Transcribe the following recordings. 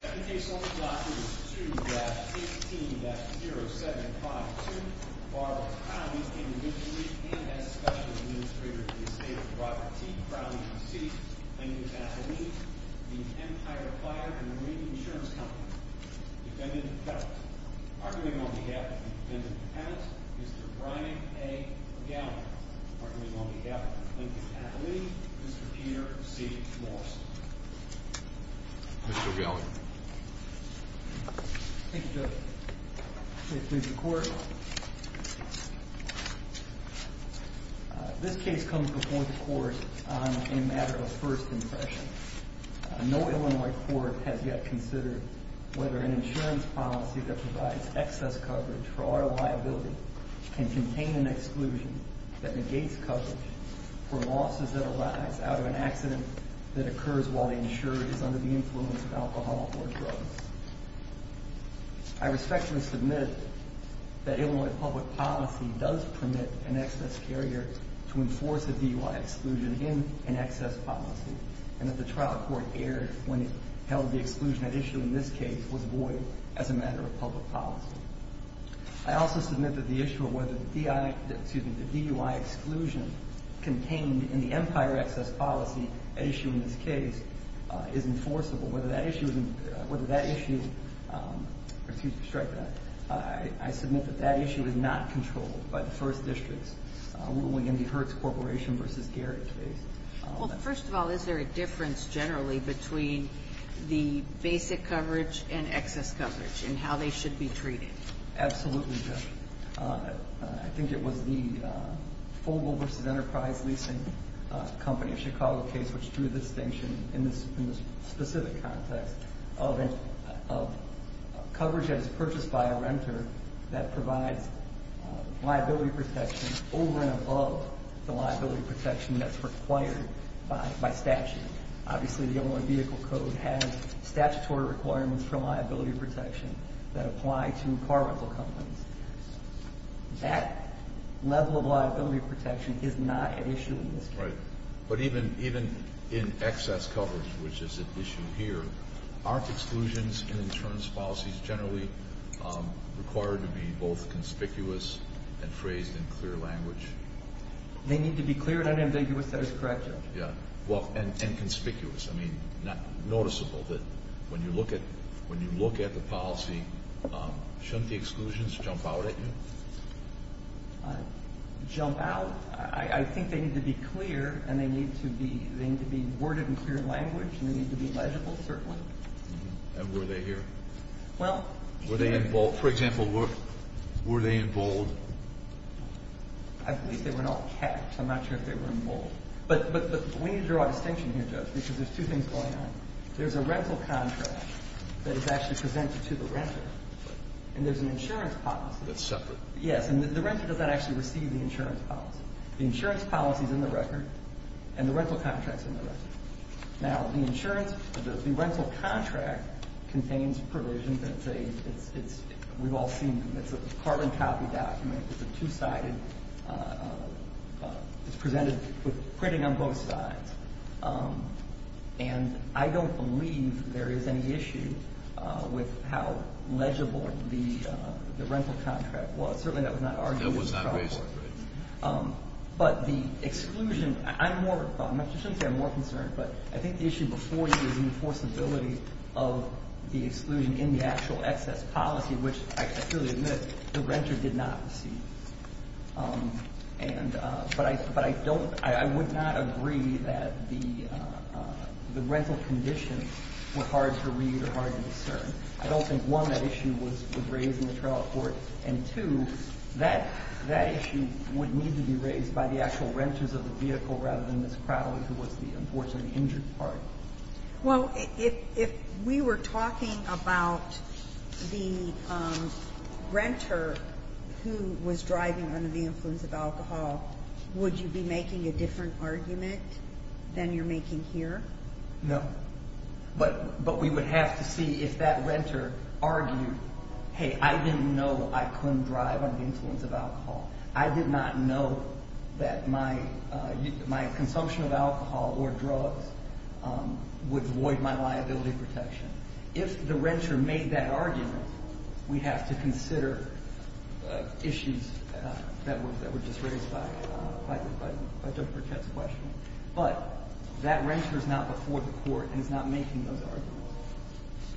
Second case on the block is 2-18-0752, Barbara Crowley, individually and as Special Administrator of the Estate of Robert T. Crowley v. C. Lincoln Athlete v. Empire Fire and Marine Insurance Company Defendant Appellant Arguing on behalf of the Defendant Appellant, Mr. Brian A. O'Gallagher Arguing on behalf of the Lincoln Athlete, Mr. Peter C. Morrison Mr. O'Gallagher Thank you, Judge. Please read the court. This case comes before the Court on a matter of first impression. No Illinois court has yet considered whether an insurance policy that provides excess coverage for auto liability can contain an exclusion that negates coverage for losses that arise out of an accident that occurs while the insurer is under the influence of alcohol or drugs. I respectfully submit that Illinois public policy does permit an excess carrier to enforce a DUI exclusion in an excess policy and that the trial court erred when it held the exclusion at issue in this case was void as a matter of public policy. I also submit that the issue of whether the DUI exclusion contained in the Empire excess policy at issue in this case is enforceable. I submit that that issue is not controlled by the First Districts, ruling in the Hertz Corporation v. Garrett case. First of all, is there a difference generally between the basic coverage and excess coverage and how they should be treated? Absolutely, Judge. I think it was the Fogle v. Enterprise leasing company of Chicago case which drew the distinction in this specific context of coverage that is purchased by a renter that provides liability protection over and above the liability protection that's required by statute. Obviously, the Illinois Vehicle Code has statutory requirements for liability protection that apply to car rental companies. That level of liability protection is not at issue in this case. Right. But even in excess coverage, which is at issue here, aren't exclusions in insurance policies generally required to be both conspicuous and phrased in clear language? They need to be clear and unambiguous, that is correct, Judge. And conspicuous. I mean, noticeable. When you look at the policy, shouldn't the exclusions jump out at you? Jump out? I think they need to be clear and they need to be worded in clear language and they need to be legible, certainly. And were they here? Well... For example, were they in bold? I believe they were not capped. I'm not sure if they were in bold. But we need to draw a distinction here, Judge, because there's two things going on. There's a rental contract that is actually presented to the renter and there's an insurance policy. That's separate. Yes. And the renter doesn't actually receive the insurance policy. The insurance policy is in the record and the rental contract is in the record. Now, the insurance, the rental contract contains provisions that say it's, we've all seen, it's a carbon copy document, it's a two-sided, it's presented with printing on both sides. And I don't believe there is any issue with how legible the rental contract was. Certainly that was not argued in the trial court. That was not raised. But the exclusion, I'm more, I shouldn't say I'm more concerned, but I think the issue before you was the enforceability of the exclusion in the actual excess policy, which I clearly admit, the renter did not receive. But I don't, I would not agree that the rental conditions were hard to read or hard to discern. I don't think, one, that issue was raised in the trial court, and two, that issue would need to be raised by the actual renters of the vehicle rather than Ms. Crowley, who was the unfortunately injured part. Well, if we were talking about the renter who was driving under the influence of alcohol, would you be making a different argument than you're making here? No. But we would have to see if that renter argued, hey, I didn't know I couldn't drive under the influence of alcohol. I did not know that my consumption of alcohol or drugs would void my liability protection. If the renter made that argument, we'd have to consider issues that were just raised by Judge Burkett's question. But that renter is not before the court and is not making those arguments.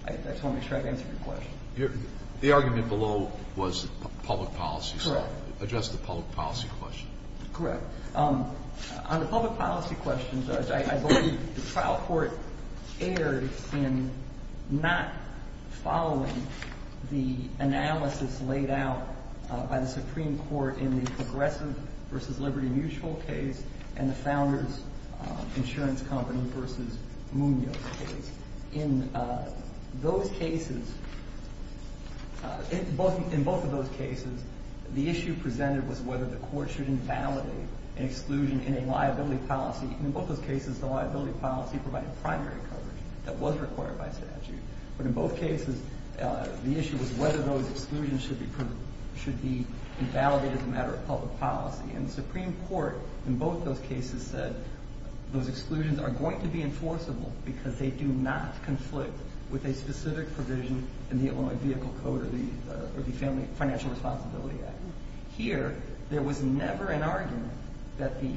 I just want to make sure I've answered your question. The argument below was public policy. Correct. It addressed the public policy question. Correct. On the public policy question, Judge, I believe the trial court erred in not following the analysis laid out by the Supreme Court in the Progressive v. Liberty Mutual case and the Founders Insurance Company v. Munoz case. In both of those cases, the issue presented was whether the court should invalidate an exclusion in a liability policy. In both those cases, the liability policy provided primary coverage that was required by statute. But in both cases, the issue was whether those exclusions should be invalidated as a matter of public policy. And the Supreme Court, in both those cases, said those exclusions are going to be enforceable because they do not conflict with a specific provision in the Illinois Vehicle Code or the Financial Responsibility Act. Here, there was never an argument that the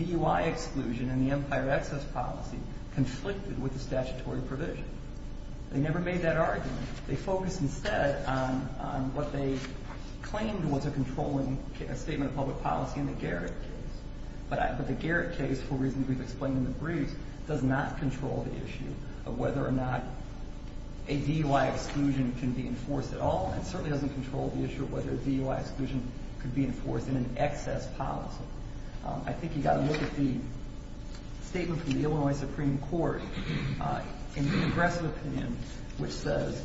DUI exclusion and the Empire Access policy conflicted with the statutory provision. They focused instead on what they claimed was a controlling statement of public policy in the Garrett case. But the Garrett case, for reasons we've explained in the briefs, does not control the issue of whether or not a DUI exclusion can be enforced at all. And it certainly doesn't control the issue of whether a DUI exclusion could be enforced in an excess policy. So I think you've got to look at the statement from the Illinois Supreme Court in the aggressive opinion which says,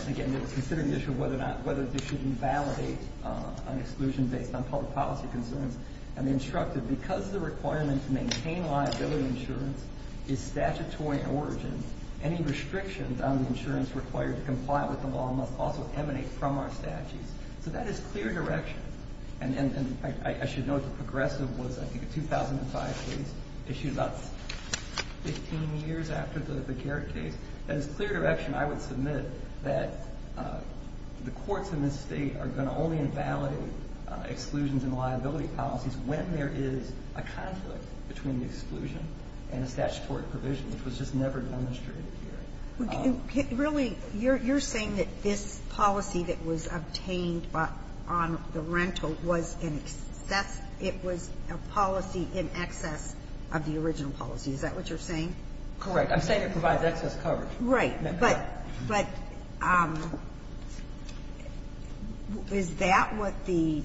and again, they were considering the issue of whether they should invalidate an exclusion based on public policy concerns. And they instructed, because the requirement to maintain liability insurance is statutory in origin, any restrictions on the insurance required to comply with the law must also emanate from our statutes. So that is clear direction. And I should note the progressive was, I think, a 2005 case issued about 15 years after the Garrett case. That is clear direction I would submit that the courts in this State are going to only invalidate exclusions and liability policies when there is a conflict between the exclusion and a statutory provision, which was just never demonstrated here. Ginsburg. Really, you're saying that this policy that was obtained on the rental was an excess It was a policy in excess of the original policy. Is that what you're saying? Correct. I'm saying it provides excess coverage. Right. But is that what the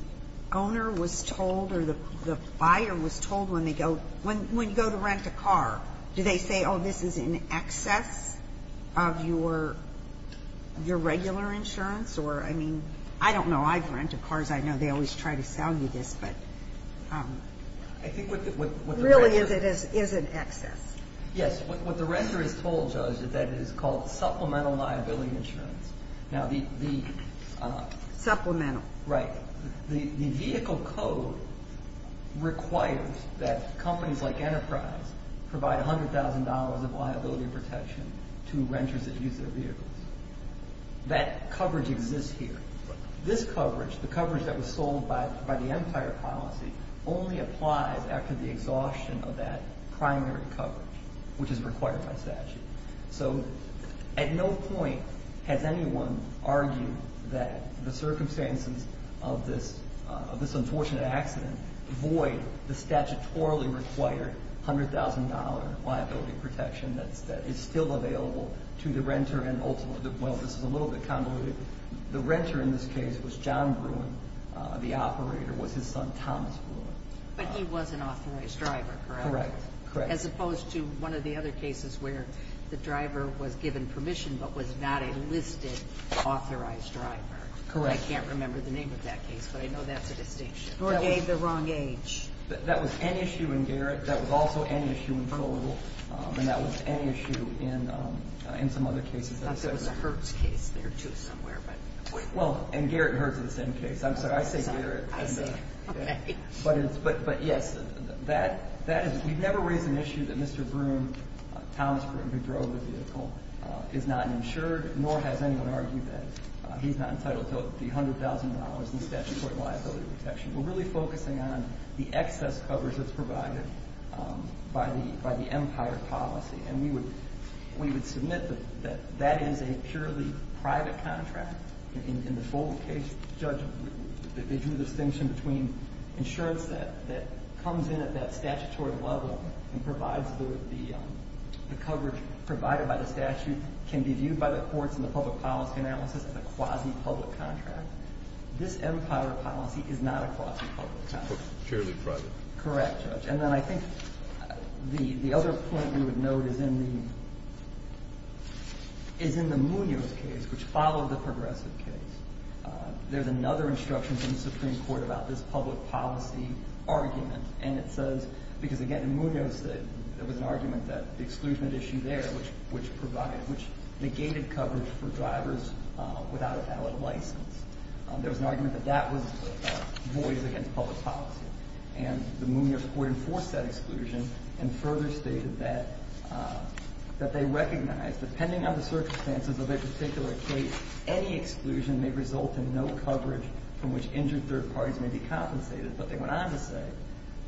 owner was told or the buyer was told when they go to rent a car? Do they say, oh, this is in excess of your regular insurance? Or, I mean, I don't know. I've rented cars. I know they always try to sell you this. But really, it is in excess. Yes. What the renter is told, Judge, is that it is called supplemental liability insurance. Now, the – Supplemental. Right. The vehicle code requires that companies like Enterprise provide $100,000 of liability protection to renters that use their vehicles. That coverage exists here. This coverage, the coverage that was sold by the Empire policy, only applies after the exhaustion of that primary coverage, which is required by statute. So at no point has anyone argued that the circumstances of this unfortunate accident void the statutorily required $100,000 liability protection that is still available to the renter. Well, this is a little bit convoluted. The renter in this case was John Bruin. The operator was his son, Thomas Bruin. But he was an authorized driver, correct? Correct. As opposed to one of the other cases where the driver was given permission but was not a listed authorized driver. Correct. I can't remember the name of that case, but I know that's a distinction. Or gave the wrong age. That was an issue in Garrett. That was also an issue in Colville. And that was an issue in some other cases. I thought there was a Hertz case there, too, somewhere. Well, and Garrett and Hertz are the same case. I'm sorry, I say Garrett. I say it. Okay. But, yes, that is we've never raised an issue that Mr. Bruin, Thomas Bruin, who drove the vehicle, is not insured, nor has anyone argued that he's not entitled to the $100,000 in statutory liability protection. We're really focusing on the excess covers that's provided by the Empire policy. And we would submit that that is a purely private contract. In the Folt case, Judge, they drew the distinction between insurance that comes in at that statutory level and provides the coverage provided by the statute can be viewed by the courts in the public policy analysis as a quasi-public contract. This Empire policy is not a quasi-public contract. Purely private. Correct, Judge. And then I think the other point we would note is in the Munoz case, which followed the Progressive case, there's another instruction from the Supreme Court about this public policy argument. And it says, because, again, in Munoz there was an argument that the exclusion issue there, which negated coverage for drivers without a valid license, there was an argument that that was a voice against public policy. And the Munoz court enforced that exclusion and further stated that they recognize, depending on the circumstances of a particular case, any exclusion may result in no coverage from which injured third parties may be compensated. But they went on to say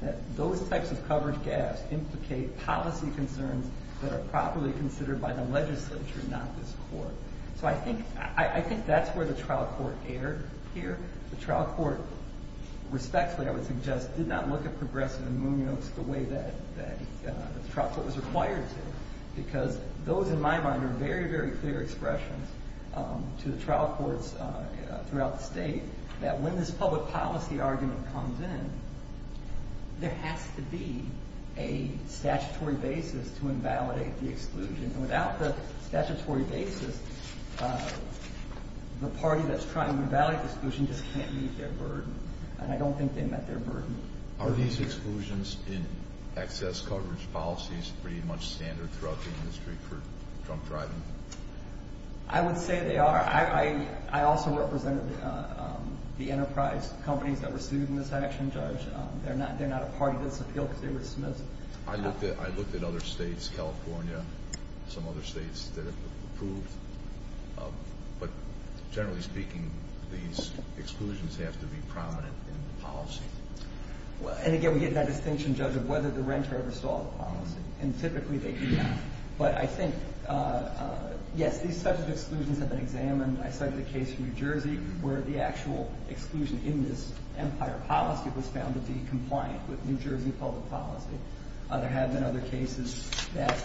that those types of coverage gaps implicate policy concerns that are properly considered by the legislature, not this court. So I think that's where the trial court erred here. The trial court, respectfully, I would suggest, did not look at Progressive and Munoz the way that the trial court was required to. Because those, in my mind, are very, very clear expressions to the trial courts throughout the state that when this public policy argument comes in, there has to be a statutory basis to invalidate the exclusion. And without the statutory basis, the party that's trying to invalidate the exclusion just can't meet their burden. And I don't think they met their burden. Are these exclusions in excess coverage policies pretty much standard throughout the industry for drunk driving? I would say they are. I also represented the enterprise companies that were sued in this action, Judge. They're not a party to this appeal because they were dismissed. I looked at other states, California, some other states that have approved. But generally speaking, these exclusions have to be prominent in the policy. And again, we get that distinction, Judge, of whether the renter ever saw the policy. And typically they do not. But I think, yes, these types of exclusions have been examined. I cited a case in New Jersey where the actual exclusion in this empire policy was found to be compliant with New Jersey public policy. There have been other cases that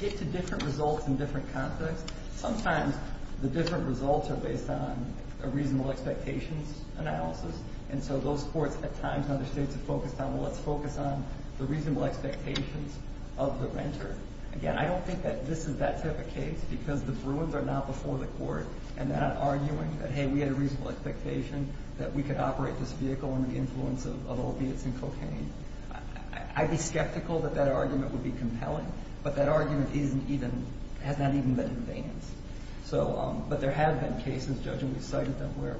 get to different results in different contexts. Sometimes the different results are based on a reasonable expectations analysis. And so those courts at times in other states have focused on, well, let's focus on the reasonable expectations of the renter. Again, I don't think that this is that type of case because the Bruins are not before the court and not arguing that, hey, we had a reasonable expectation that we could operate this vehicle under the influence of opiates and cocaine. I'd be skeptical that that argument would be compelling. But that argument hasn't even been advanced. But there have been cases, Judge, and we've cited them where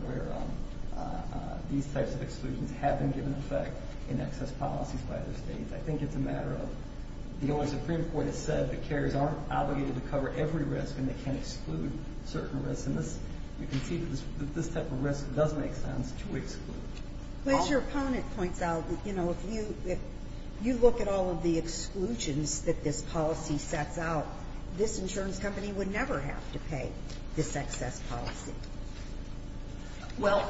these types of exclusions have been given effect in excess policies by other states. I think it's a matter of the only Supreme Court has said that carriers aren't obligated to cover every risk and they can't exclude certain risks. And you can see that this type of risk does make sense to exclude. But as your opponent points out, you know, if you look at all of the exclusions that this policy sets out, this insurance company would never have to pay this excess policy. Well,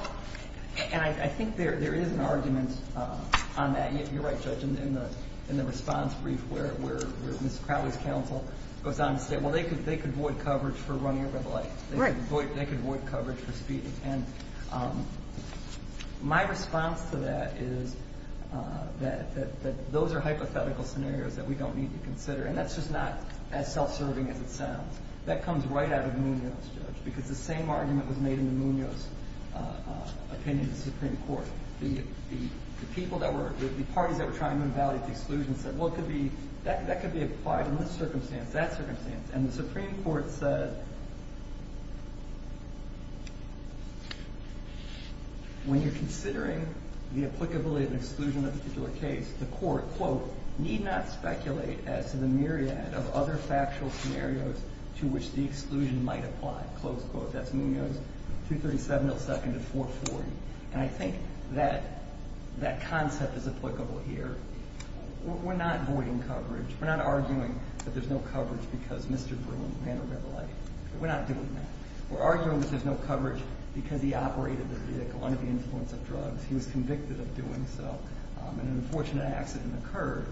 and I think there is an argument on that. You're right, Judge, in the response brief where Ms. Crowley's counsel goes on to say, well, they could void coverage for running a red light. Right. They could void coverage for speeding. And my response to that is that those are hypothetical scenarios that we don't need to consider. And that's just not as self-serving as it sounds. That comes right out of Munoz, Judge, because the same argument was made in the Munoz opinion in the Supreme Court. The people that were – the parties that were trying to invalidate the exclusion said, well, it could be – that could be applied in this circumstance, that circumstance. And the Supreme Court said when you're considering the applicability of an exclusion in a particular case, the court, quote, need not speculate as to the myriad of other factual scenarios to which the exclusion might apply. Close quote. That's Munoz, 237 millisecond and 440. And I think that that concept is applicable here. We're not voiding coverage. We're not arguing that there's no coverage because Mr. Bruin ran a red light. We're not doing that. We're arguing that there's no coverage because he operated the vehicle under the influence of drugs. He was convicted of doing so and an unfortunate accident occurred.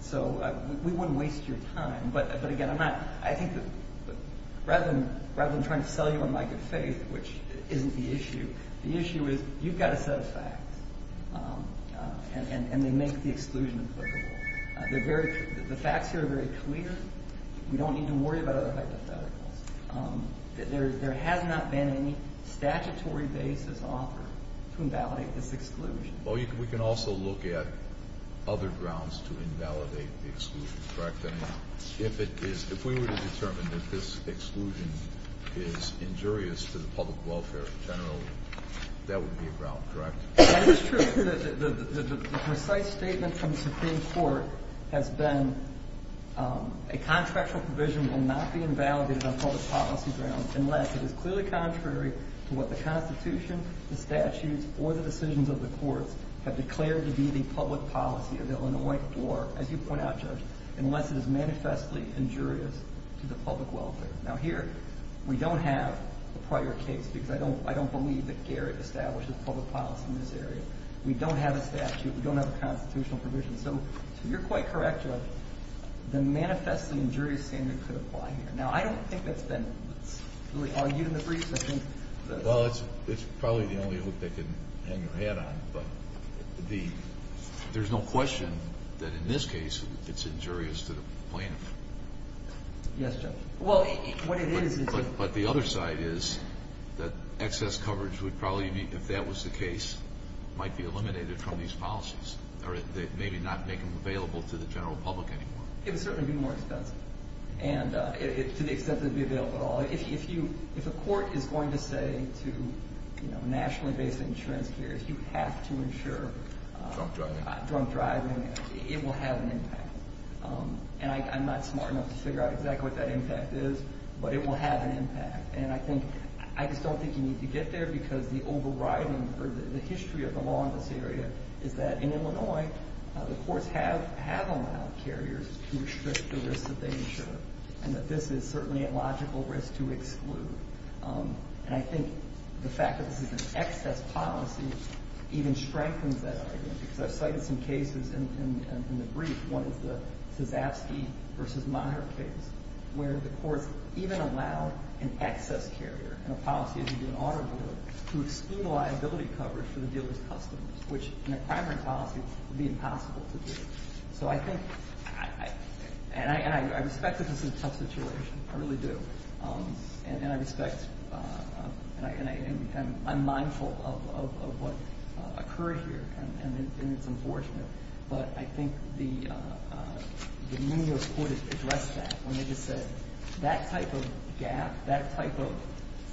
So we wouldn't waste your time. But, again, I'm not – I think that rather than trying to sell you on my good faith, which isn't the issue, the issue is you've got a set of facts and they make the exclusion applicable. They're very – the facts here are very clear. We don't need to worry about other hypotheticals. There has not been any statutory basis offered to invalidate this exclusion. Well, we can also look at other grounds to invalidate the exclusion, correct? And if it is – if we were to determine that this exclusion is injurious to the public welfare generally, that would be a ground, correct? That is true. The precise statement from the Supreme Court has been a contractual provision will not be invalidated on public policy grounds unless it is clearly contrary to what the Constitution, the statutes, or the decisions of the courts have declared to be the public policy of the Illinois court, as you point out, Judge, unless it is manifestly injurious to the public welfare. Now, here we don't have a prior case because I don't believe that Garrett establishes public policy in this area. We don't have a statute. We don't have a constitutional provision. So you're quite correct, Judge, the manifestly injurious statement could apply here. Now, I don't think that's been really argued in the briefs. I think that – Well, it's probably the only hook they can hang their hat on. But the – there's no question that in this case it's injurious to the plaintiff. Yes, Judge. Well, what it is – But the other side is that excess coverage would probably be, if that was the case, might be eliminated from these policies or maybe not make them available to the general public anymore. It would certainly be more expensive and to the extent that it would be available at all. If you – if a court is going to say to, you know, nationally based insurance carriers you have to insure – Drunk driving. Drunk driving, it will have an impact. And I'm not smart enough to figure out exactly what that impact is, but it will have an impact. And I think – I just don't think you need to get there because the overriding or the history of the law in this area is that in Illinois the courts have allowed carriers to restrict the risk that they insure. And that this is certainly a logical risk to exclude. And I think the fact that this is an excess policy even strengthens that argument. Because I've cited some cases in the brief. One is the Sazafsky v. Maher case where the courts even allow an excess carrier in a policy as you do an auto dealer to exclude liability coverage for the dealer's customers, which in a primary policy would be impossible to do. So I think – and I respect that this is a tough situation. I really do. And I respect – and I'm mindful of what occurred here. And it's unfortunate. But I think the New York court addressed that when they just said that type of gap, that type of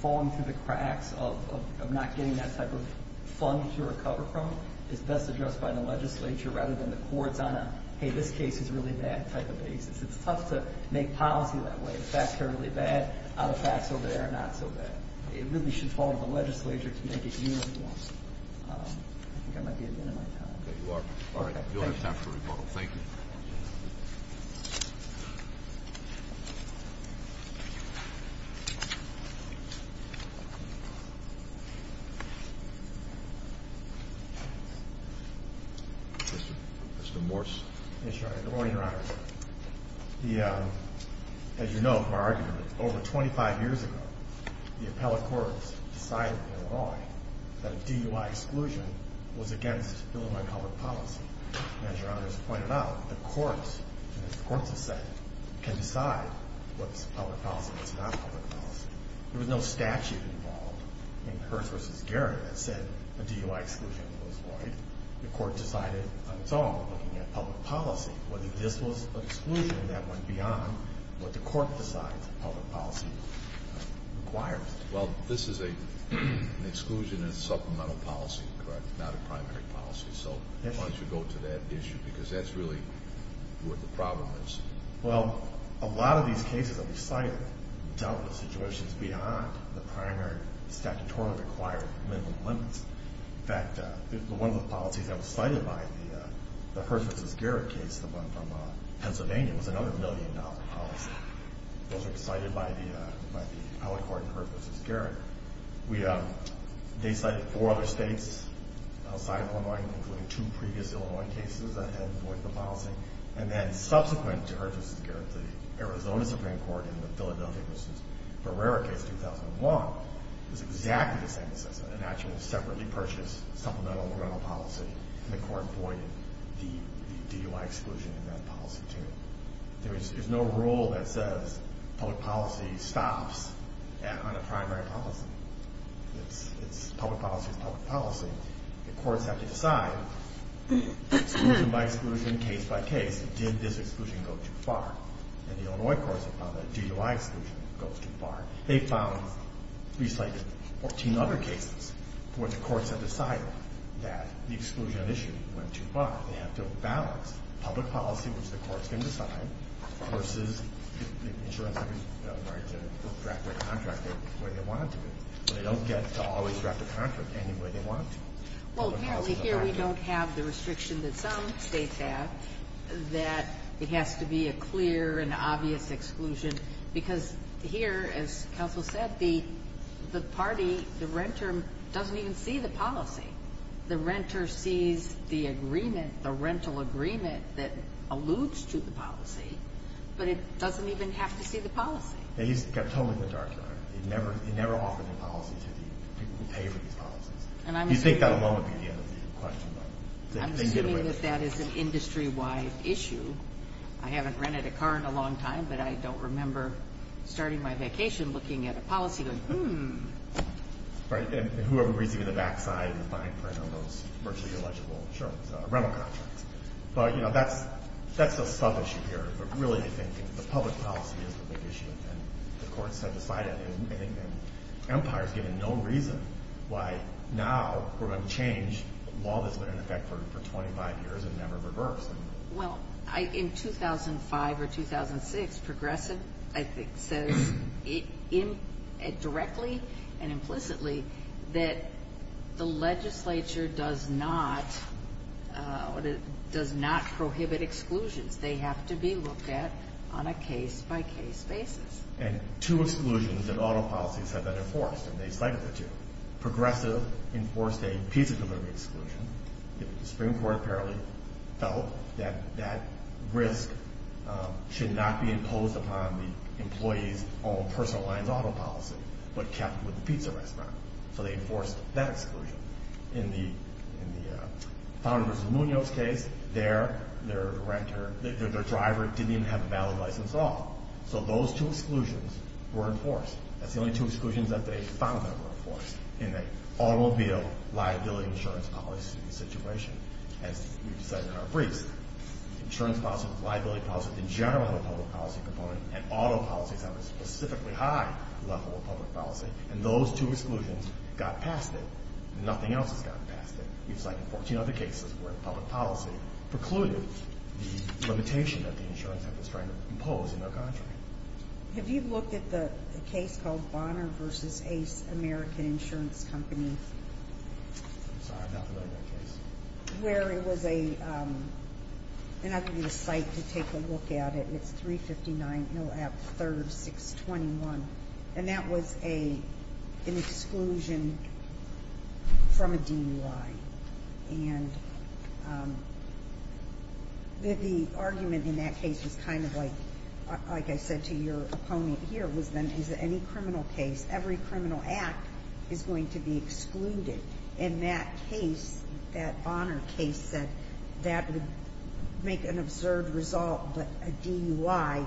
falling through the cracks of not getting that type of fund to recover from is best addressed by the legislature rather than the courts on a hey, this case is really bad type of basis. It's tough to make policy that way. Is the fact currently bad? Are the facts over there not so bad? It really should fall to the legislature to make it uniform. I think I might be at the end of my time. You are. All right. We don't have time for rebuttal. Thank you. Mr. Morse. Yes, Your Honor. Good morning, Your Honor. The – as you know from our argument, over 25 years ago, the appellate courts decided in a law that a DUI exclusion was against Illinois public policy. And as Your Honor has pointed out, the courts – and as the courts have said, can decide what's public policy and what's not public policy. There was no statute involved in Hearst v. Garrett that said a DUI exclusion was void. The court decided on its own, looking at public policy, whether this was an exclusion that went beyond what the court decides public policy requires. Well, this is an exclusion and supplemental policy, correct? Not a primary policy. So why don't you go to that issue? Because that's really where the problem is. Well, a lot of these cases that we cited dealt with situations beyond the primary statutorily required minimum limits. In fact, one of the policies that was cited by the Hearst v. Garrett case, the one from Pennsylvania, was another million-dollar policy. Those were cited by the appellate court in Hearst v. Garrett. We – they cited four other states outside Illinois, including two previous Illinois cases that had void of the policy. And then subsequent to Hearst v. Garrett, the Arizona Supreme Court in the Philadelphia v. Barrera case in 2001, it was exactly the same assessment, an actual separately purchased supplemental rental policy, and the court voided the DUI exclusion in that policy, too. There's no rule that says public policy stops on a primary policy. It's public policy is public policy. The courts have to decide exclusion by exclusion, case by case, did this exclusion go too far? And the Illinois courts have found that DUI exclusion goes too far. They found, at least like 14 other cases, where the courts have decided that the exclusion of issue went too far. They have to balance public policy, which the courts can decide, versus the insurance companies that are going to draft their contract the way they want it to be. They don't get to always draft a contract any way they want to. Well, apparently here we don't have the restriction that some states have, that it has to be a clear and obvious exclusion. Because here, as counsel said, the party, the renter, doesn't even see the policy. The renter sees the agreement, the rental agreement that alludes to the policy, but it doesn't even have to see the policy. Yeah, he's got totally the dark side. He never offered the policy to the people who pay for these policies. You'd think that alone would be the end of the question. I'm assuming that that is an industry-wide issue. I haven't rented a car in a long time, but I don't remember starting my vacation looking at a policy and going, hmm. Right, and whoever agrees to get the backside and the fine print on those virtually illegible insurance rental contracts. But, you know, that's a sub-issue here. But really, I think the public policy is the big issue, and the courts have decided, and I think the Empire has given no reason why now we're going to change a law that's been in effect for 25 years and never reversed. Well, in 2005 or 2006, Progressive, I think, says directly and implicitly that the legislature does not prohibit exclusions. They have to be looked at on a case-by-case basis. And two exclusions that auto policies have been enforced, and they cited the two. Progressive enforced a pizza delivery exclusion. The Supreme Court apparently felt that that risk should not be imposed upon the employee's own personal lines auto policy, but kept with the pizza restaurant. So they enforced that exclusion. In the Fowler v. Munoz case, their driver didn't even have a valid license at all. So those two exclusions were enforced. That's the only two exclusions that they found that were enforced in the automobile liability insurance policy situation. As we've said in our briefs, insurance policy, liability policy in general in the public policy component, and auto policies have a specifically high level of public policy. And those two exclusions got past it. Nothing else has gotten past it. We've cited 14 other cases where public policy precluded the limitation that the insurance has been trying to impose in their country. Have you looked at the case called Bonner v. Ace American Insurance Company? I'm sorry, I'm not familiar with that case. Where it was a, and I can give you the site to take a look at it. It's 359 Hill Ave. 3rd, 621. And that was an exclusion from a DUI. And the argument in that case was kind of like, like I said to your opponent here, was then is any criminal case, every criminal act is going to be excluded. And that case, that Bonner case said that would make an observed result, but a DUI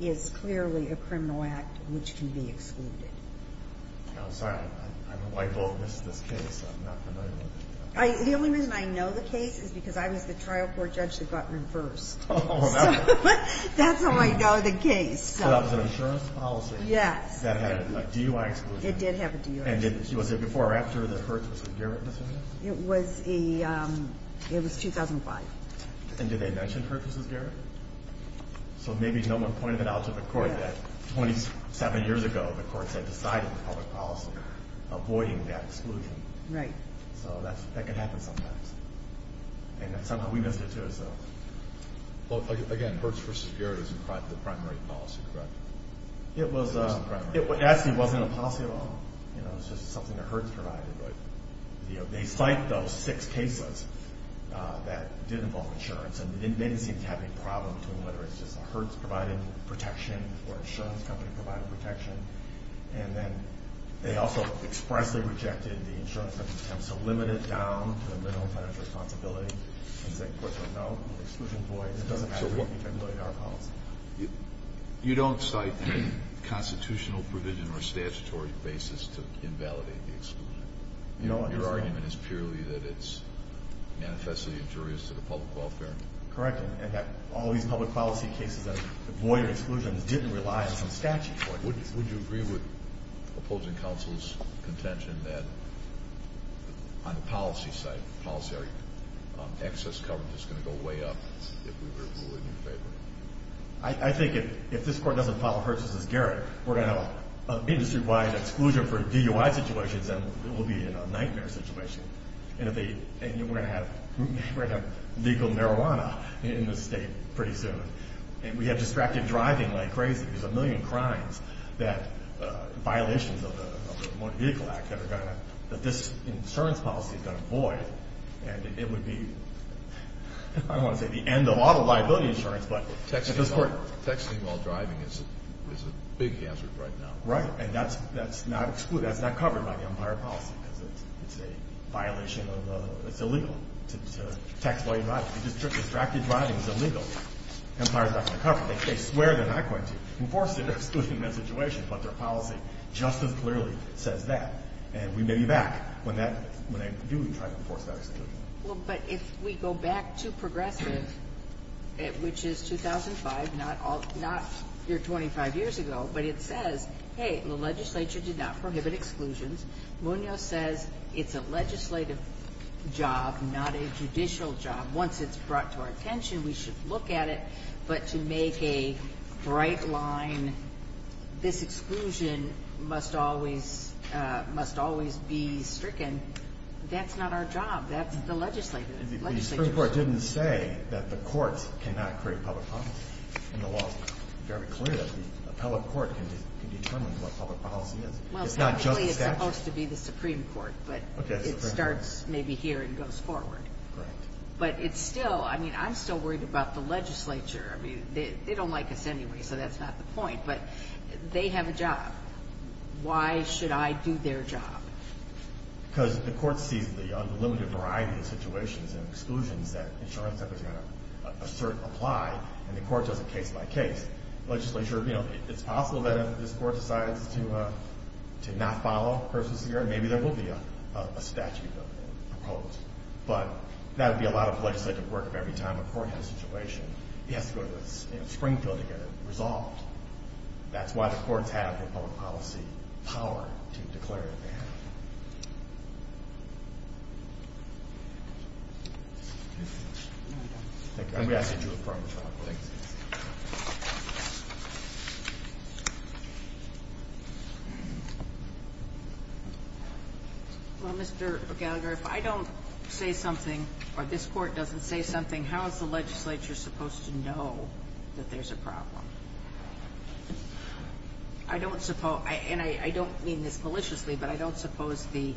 is clearly a criminal act which can be excluded. I'm sorry. I'm a liable witness to this case. I'm not familiar with it. The only reason I know the case is because I was the trial court judge that got reversed. So that's how I know the case. So that was an insurance policy. Yes. That had a DUI exclusion. It did have a DUI exclusion. And was it before or after the Hertz v. Garrett incident? It was 2005. And did they mention Hertz v. Garrett? So maybe no one pointed it out to the court that 27 years ago the courts had decided in public policy avoiding that exclusion. Right. So that can happen sometimes. And somehow we missed it too, so. Well, again, Hertz v. Garrett is the primary policy, correct? It actually wasn't a policy at all. You know, it was just something that Hertz provided. But they cite those six cases that did involve insurance, and they didn't seem to have any problem with whether it's just the Hertz providing protection or an insurance company providing protection. And then they also expressly rejected the insurance company's attempts to limit it down to a minimum financial responsibility. And the second question, no, the exclusion voids. It doesn't have to be tabulated in our policy. You don't cite a constitutional provision or statutory basis to invalidate the exclusion. Your argument is purely that it's manifestly injurious to the public welfare. Correct, and that all these public policy cases that avoid exclusion didn't rely on some statute. Would you agree with opposing counsel's contention that on the policy side, policy area, excess coverage is going to go way up if we were to rule in your favor? I think if this court doesn't follow Hertz v. Garrett, we're going to have an industry-wide exclusion for DUI situations, and it will be a nightmare situation. And we're going to have legal marijuana in this state pretty soon. And we have distracted driving like crazy. There's a million crimes that violations of the Motor Vehicle Act that this insurance policy is going to avoid. And it would be, I don't want to say the end of all the liability insurance, but at this point. Texting while driving is a big hazard right now. Right, and that's not covered by the umpire policy because it's a violation of, it's illegal to text while driving. Distracted driving is illegal. The umpire is not going to cover it. They swear they're not going to enforce the exclusion in that situation, but their policy just as clearly says that. And we may be back when that, when they do try to enforce that exclusion. Well, but if we go back to Progressive, which is 2005, not all, not your 25 years ago, but it says, hey, the legislature did not prohibit exclusions. Munoz says it's a legislative job, not a judicial job. Once it's brought to our attention, we should look at it. But to make a bright line, this exclusion must always be stricken, that's not our job. That's the legislature's job. The Supreme Court didn't say that the courts cannot create public policy. And the law is very clear that the appellate court can determine what public policy is. Well, technically it's supposed to be the Supreme Court, but it starts maybe here and goes forward. Correct. But it's still, I mean, I'm still worried about the legislature. I mean, they don't like us anyway, so that's not the point. But they have a job. Why should I do their job? Because the court sees the unlimited variety of situations and exclusions that insurance companies are going to assert and apply, and the court does it case by case. Legislature, you know, it's possible that if this court decides to not follow personal security, maybe there will be a statute of appeals. But that would be a lot of legislative work every time a court has a situation. It has to go to the Supreme Court to get it resolved. That's why the courts have the public policy power to declare what they have. Thank you. And we ask that you affirm the following. Thank you. Well, Mr. Gallagher, if I don't say something or this court doesn't say something, how is the legislature supposed to know that there's a problem? I don't suppose ñ and I don't mean this maliciously, but I don't suppose the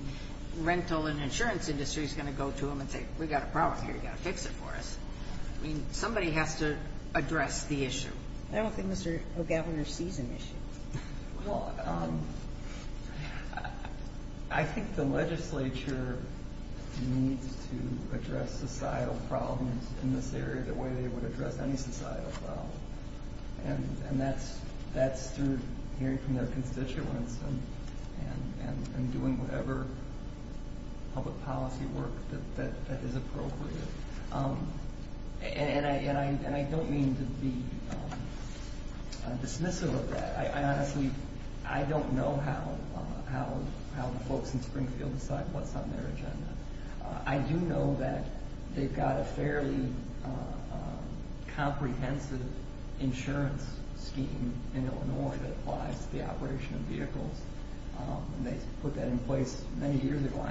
rental and insurance industry is going to go to them and say, We've got a problem here. You've got to fix it for us. I mean, somebody has to address the issue. I don't think Mr. O'Gallagher sees an issue. Well, I think the legislature needs to address societal problems in this area the way they would address any societal problem. And that's through hearing from their constituents and doing whatever public policy work that is appropriate. And I don't mean to be dismissive of that. Honestly, I don't know how the folks in Springfield decide what's on their agenda. I do know that they've got a fairly comprehensive insurance scheme in Illinois that applies to the operation of vehicles. And they put that in place many years ago.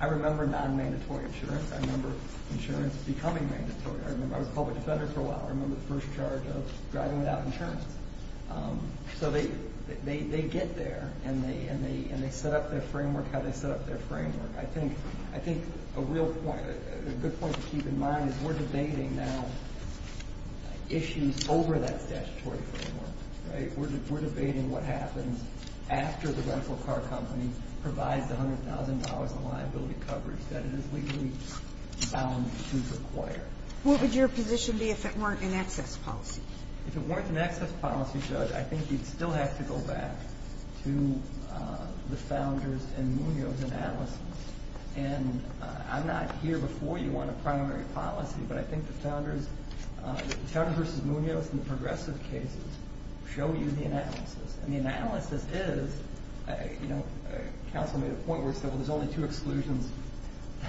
I remember non-mandatory insurance. I remember insurance becoming mandatory. I was a public defender for a while. I remember the first charge of driving without insurance. So they get there, and they set up their framework how they set up their framework. I think a good point to keep in mind is we're debating now issues over that statutory framework. We're debating what happens after the rental car company provides $100,000 in liability coverage that it is legally bound to require. What would your position be if it weren't an access policy? If it weren't an access policy, Judge, I think you'd still have to go back to the Founders and Munoz analysis. And I'm not here before you on a primary policy, but I think the Founders versus Munoz and the progressive cases show you the analysis. And the analysis is, you know, counsel made a point where it said, well, there's only two exclusions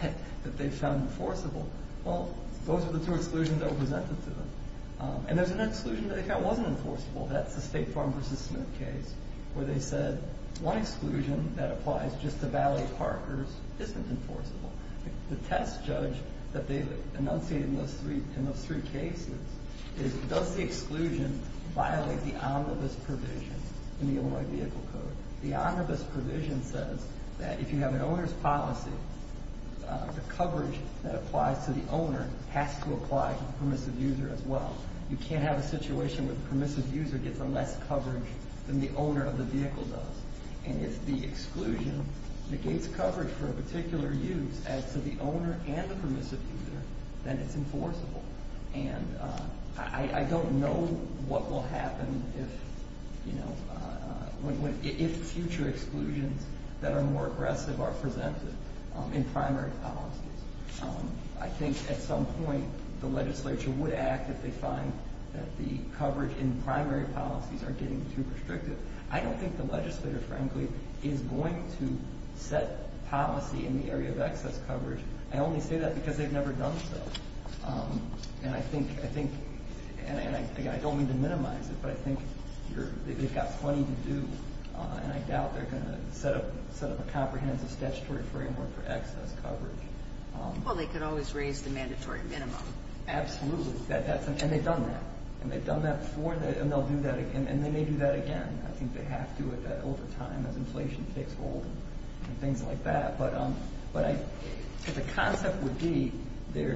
that they found enforceable. Well, those are the two exclusions that were presented to them. And there's an exclusion that they thought wasn't enforceable. That's the State Farm versus Smith case where they said, one exclusion that applies just to Valley Parkers isn't enforceable. The test, Judge, that they enunciated in those three cases is, does the exclusion violate the omnibus provision in the Illinois Vehicle Code? The omnibus provision says that if you have an owner's policy, the coverage that applies to the owner has to apply to the permissive user as well. You can't have a situation where the permissive user gets less coverage than the owner of the vehicle does. And if the exclusion negates coverage for a particular use as to the owner and the permissive user, then it's enforceable. And I don't know what will happen if, you know, if future exclusions that are more aggressive are presented in primary policies. I think at some point the legislature would act if they find that the coverage in primary policies are getting too restrictive. I don't think the legislator, frankly, is going to set policy in the area of excess coverage. I only say that because they've never done so. And I think, and I don't mean to minimize it, but I think they've got plenty to do. And I doubt they're going to set up a comprehensive statutory framework for excess coverage. Well, they could always raise the mandatory minimum. Absolutely. And they've done that. And they've done that before and they'll do that again. And they may do that again. I think they have to over time as inflation takes hold and things like that. But the concept would be there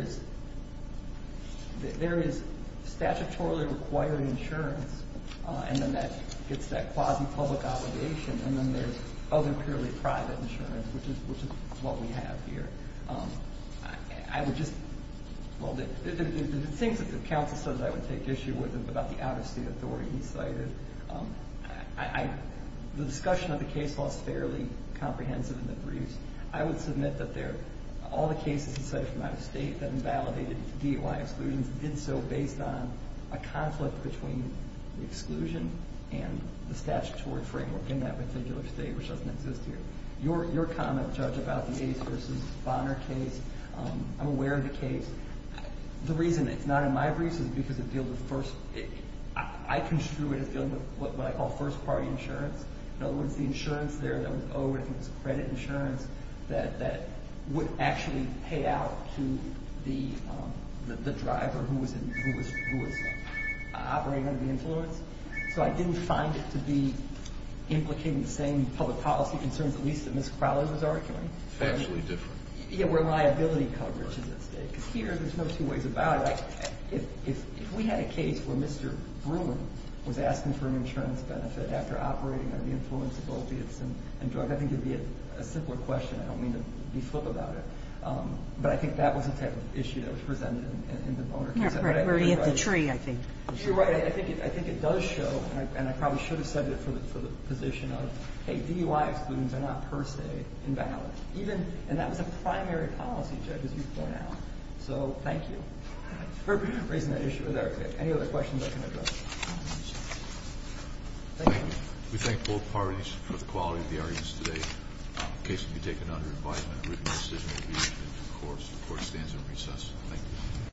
is statutorily required insurance, and then that gets that quasi-public obligation, and then there's other purely private insurance, which is what we have here. I would just, well, the things that the counsel said that I would take issue with about the out-of-state authority he cited, the discussion of the case law is fairly comprehensive in the briefs. I would submit that all the cases he cited from out-of-state that invalidated DOI exclusions did so based on a conflict between the exclusion and the statutory framework in that particular state, which doesn't exist here. Your comment, Judge, about the Ace v. Bonner case, I'm aware of the case. The reason it's not in my briefs is because it deals with first, I construe it as dealing with what I call first-party insurance. In other words, the insurance there that was owed, I think it was credit insurance, that would actually pay out to the driver who was operating under the influence. So I didn't find it to be implicated in the same public policy concerns, at least that Ms. Crowley was arguing. It's actually different. Yeah, where liability coverage is at stake. Here, there's no two ways about it. If we had a case where Mr. Bruin was asking for an insurance benefit after operating under the influence of opiates and drugs, I think it would be a simpler question. I don't mean to be flip about it. But I think that was the type of issue that was presented in the Bonner case. Yeah, right where he hit the tree, I think. You're right. I think it does show, and I probably should have said it for the position of, hey, DOI exclusions are not per se invalid. And that was a primary policy, Judge, as you point out. So thank you for raising that issue. Are there any other questions I can address? Thank you. Thank you. We thank both parties for the quality of the arguments today. The case will be taken under advisement. A written decision will be issued at the court. The court stands in recess. Thank you.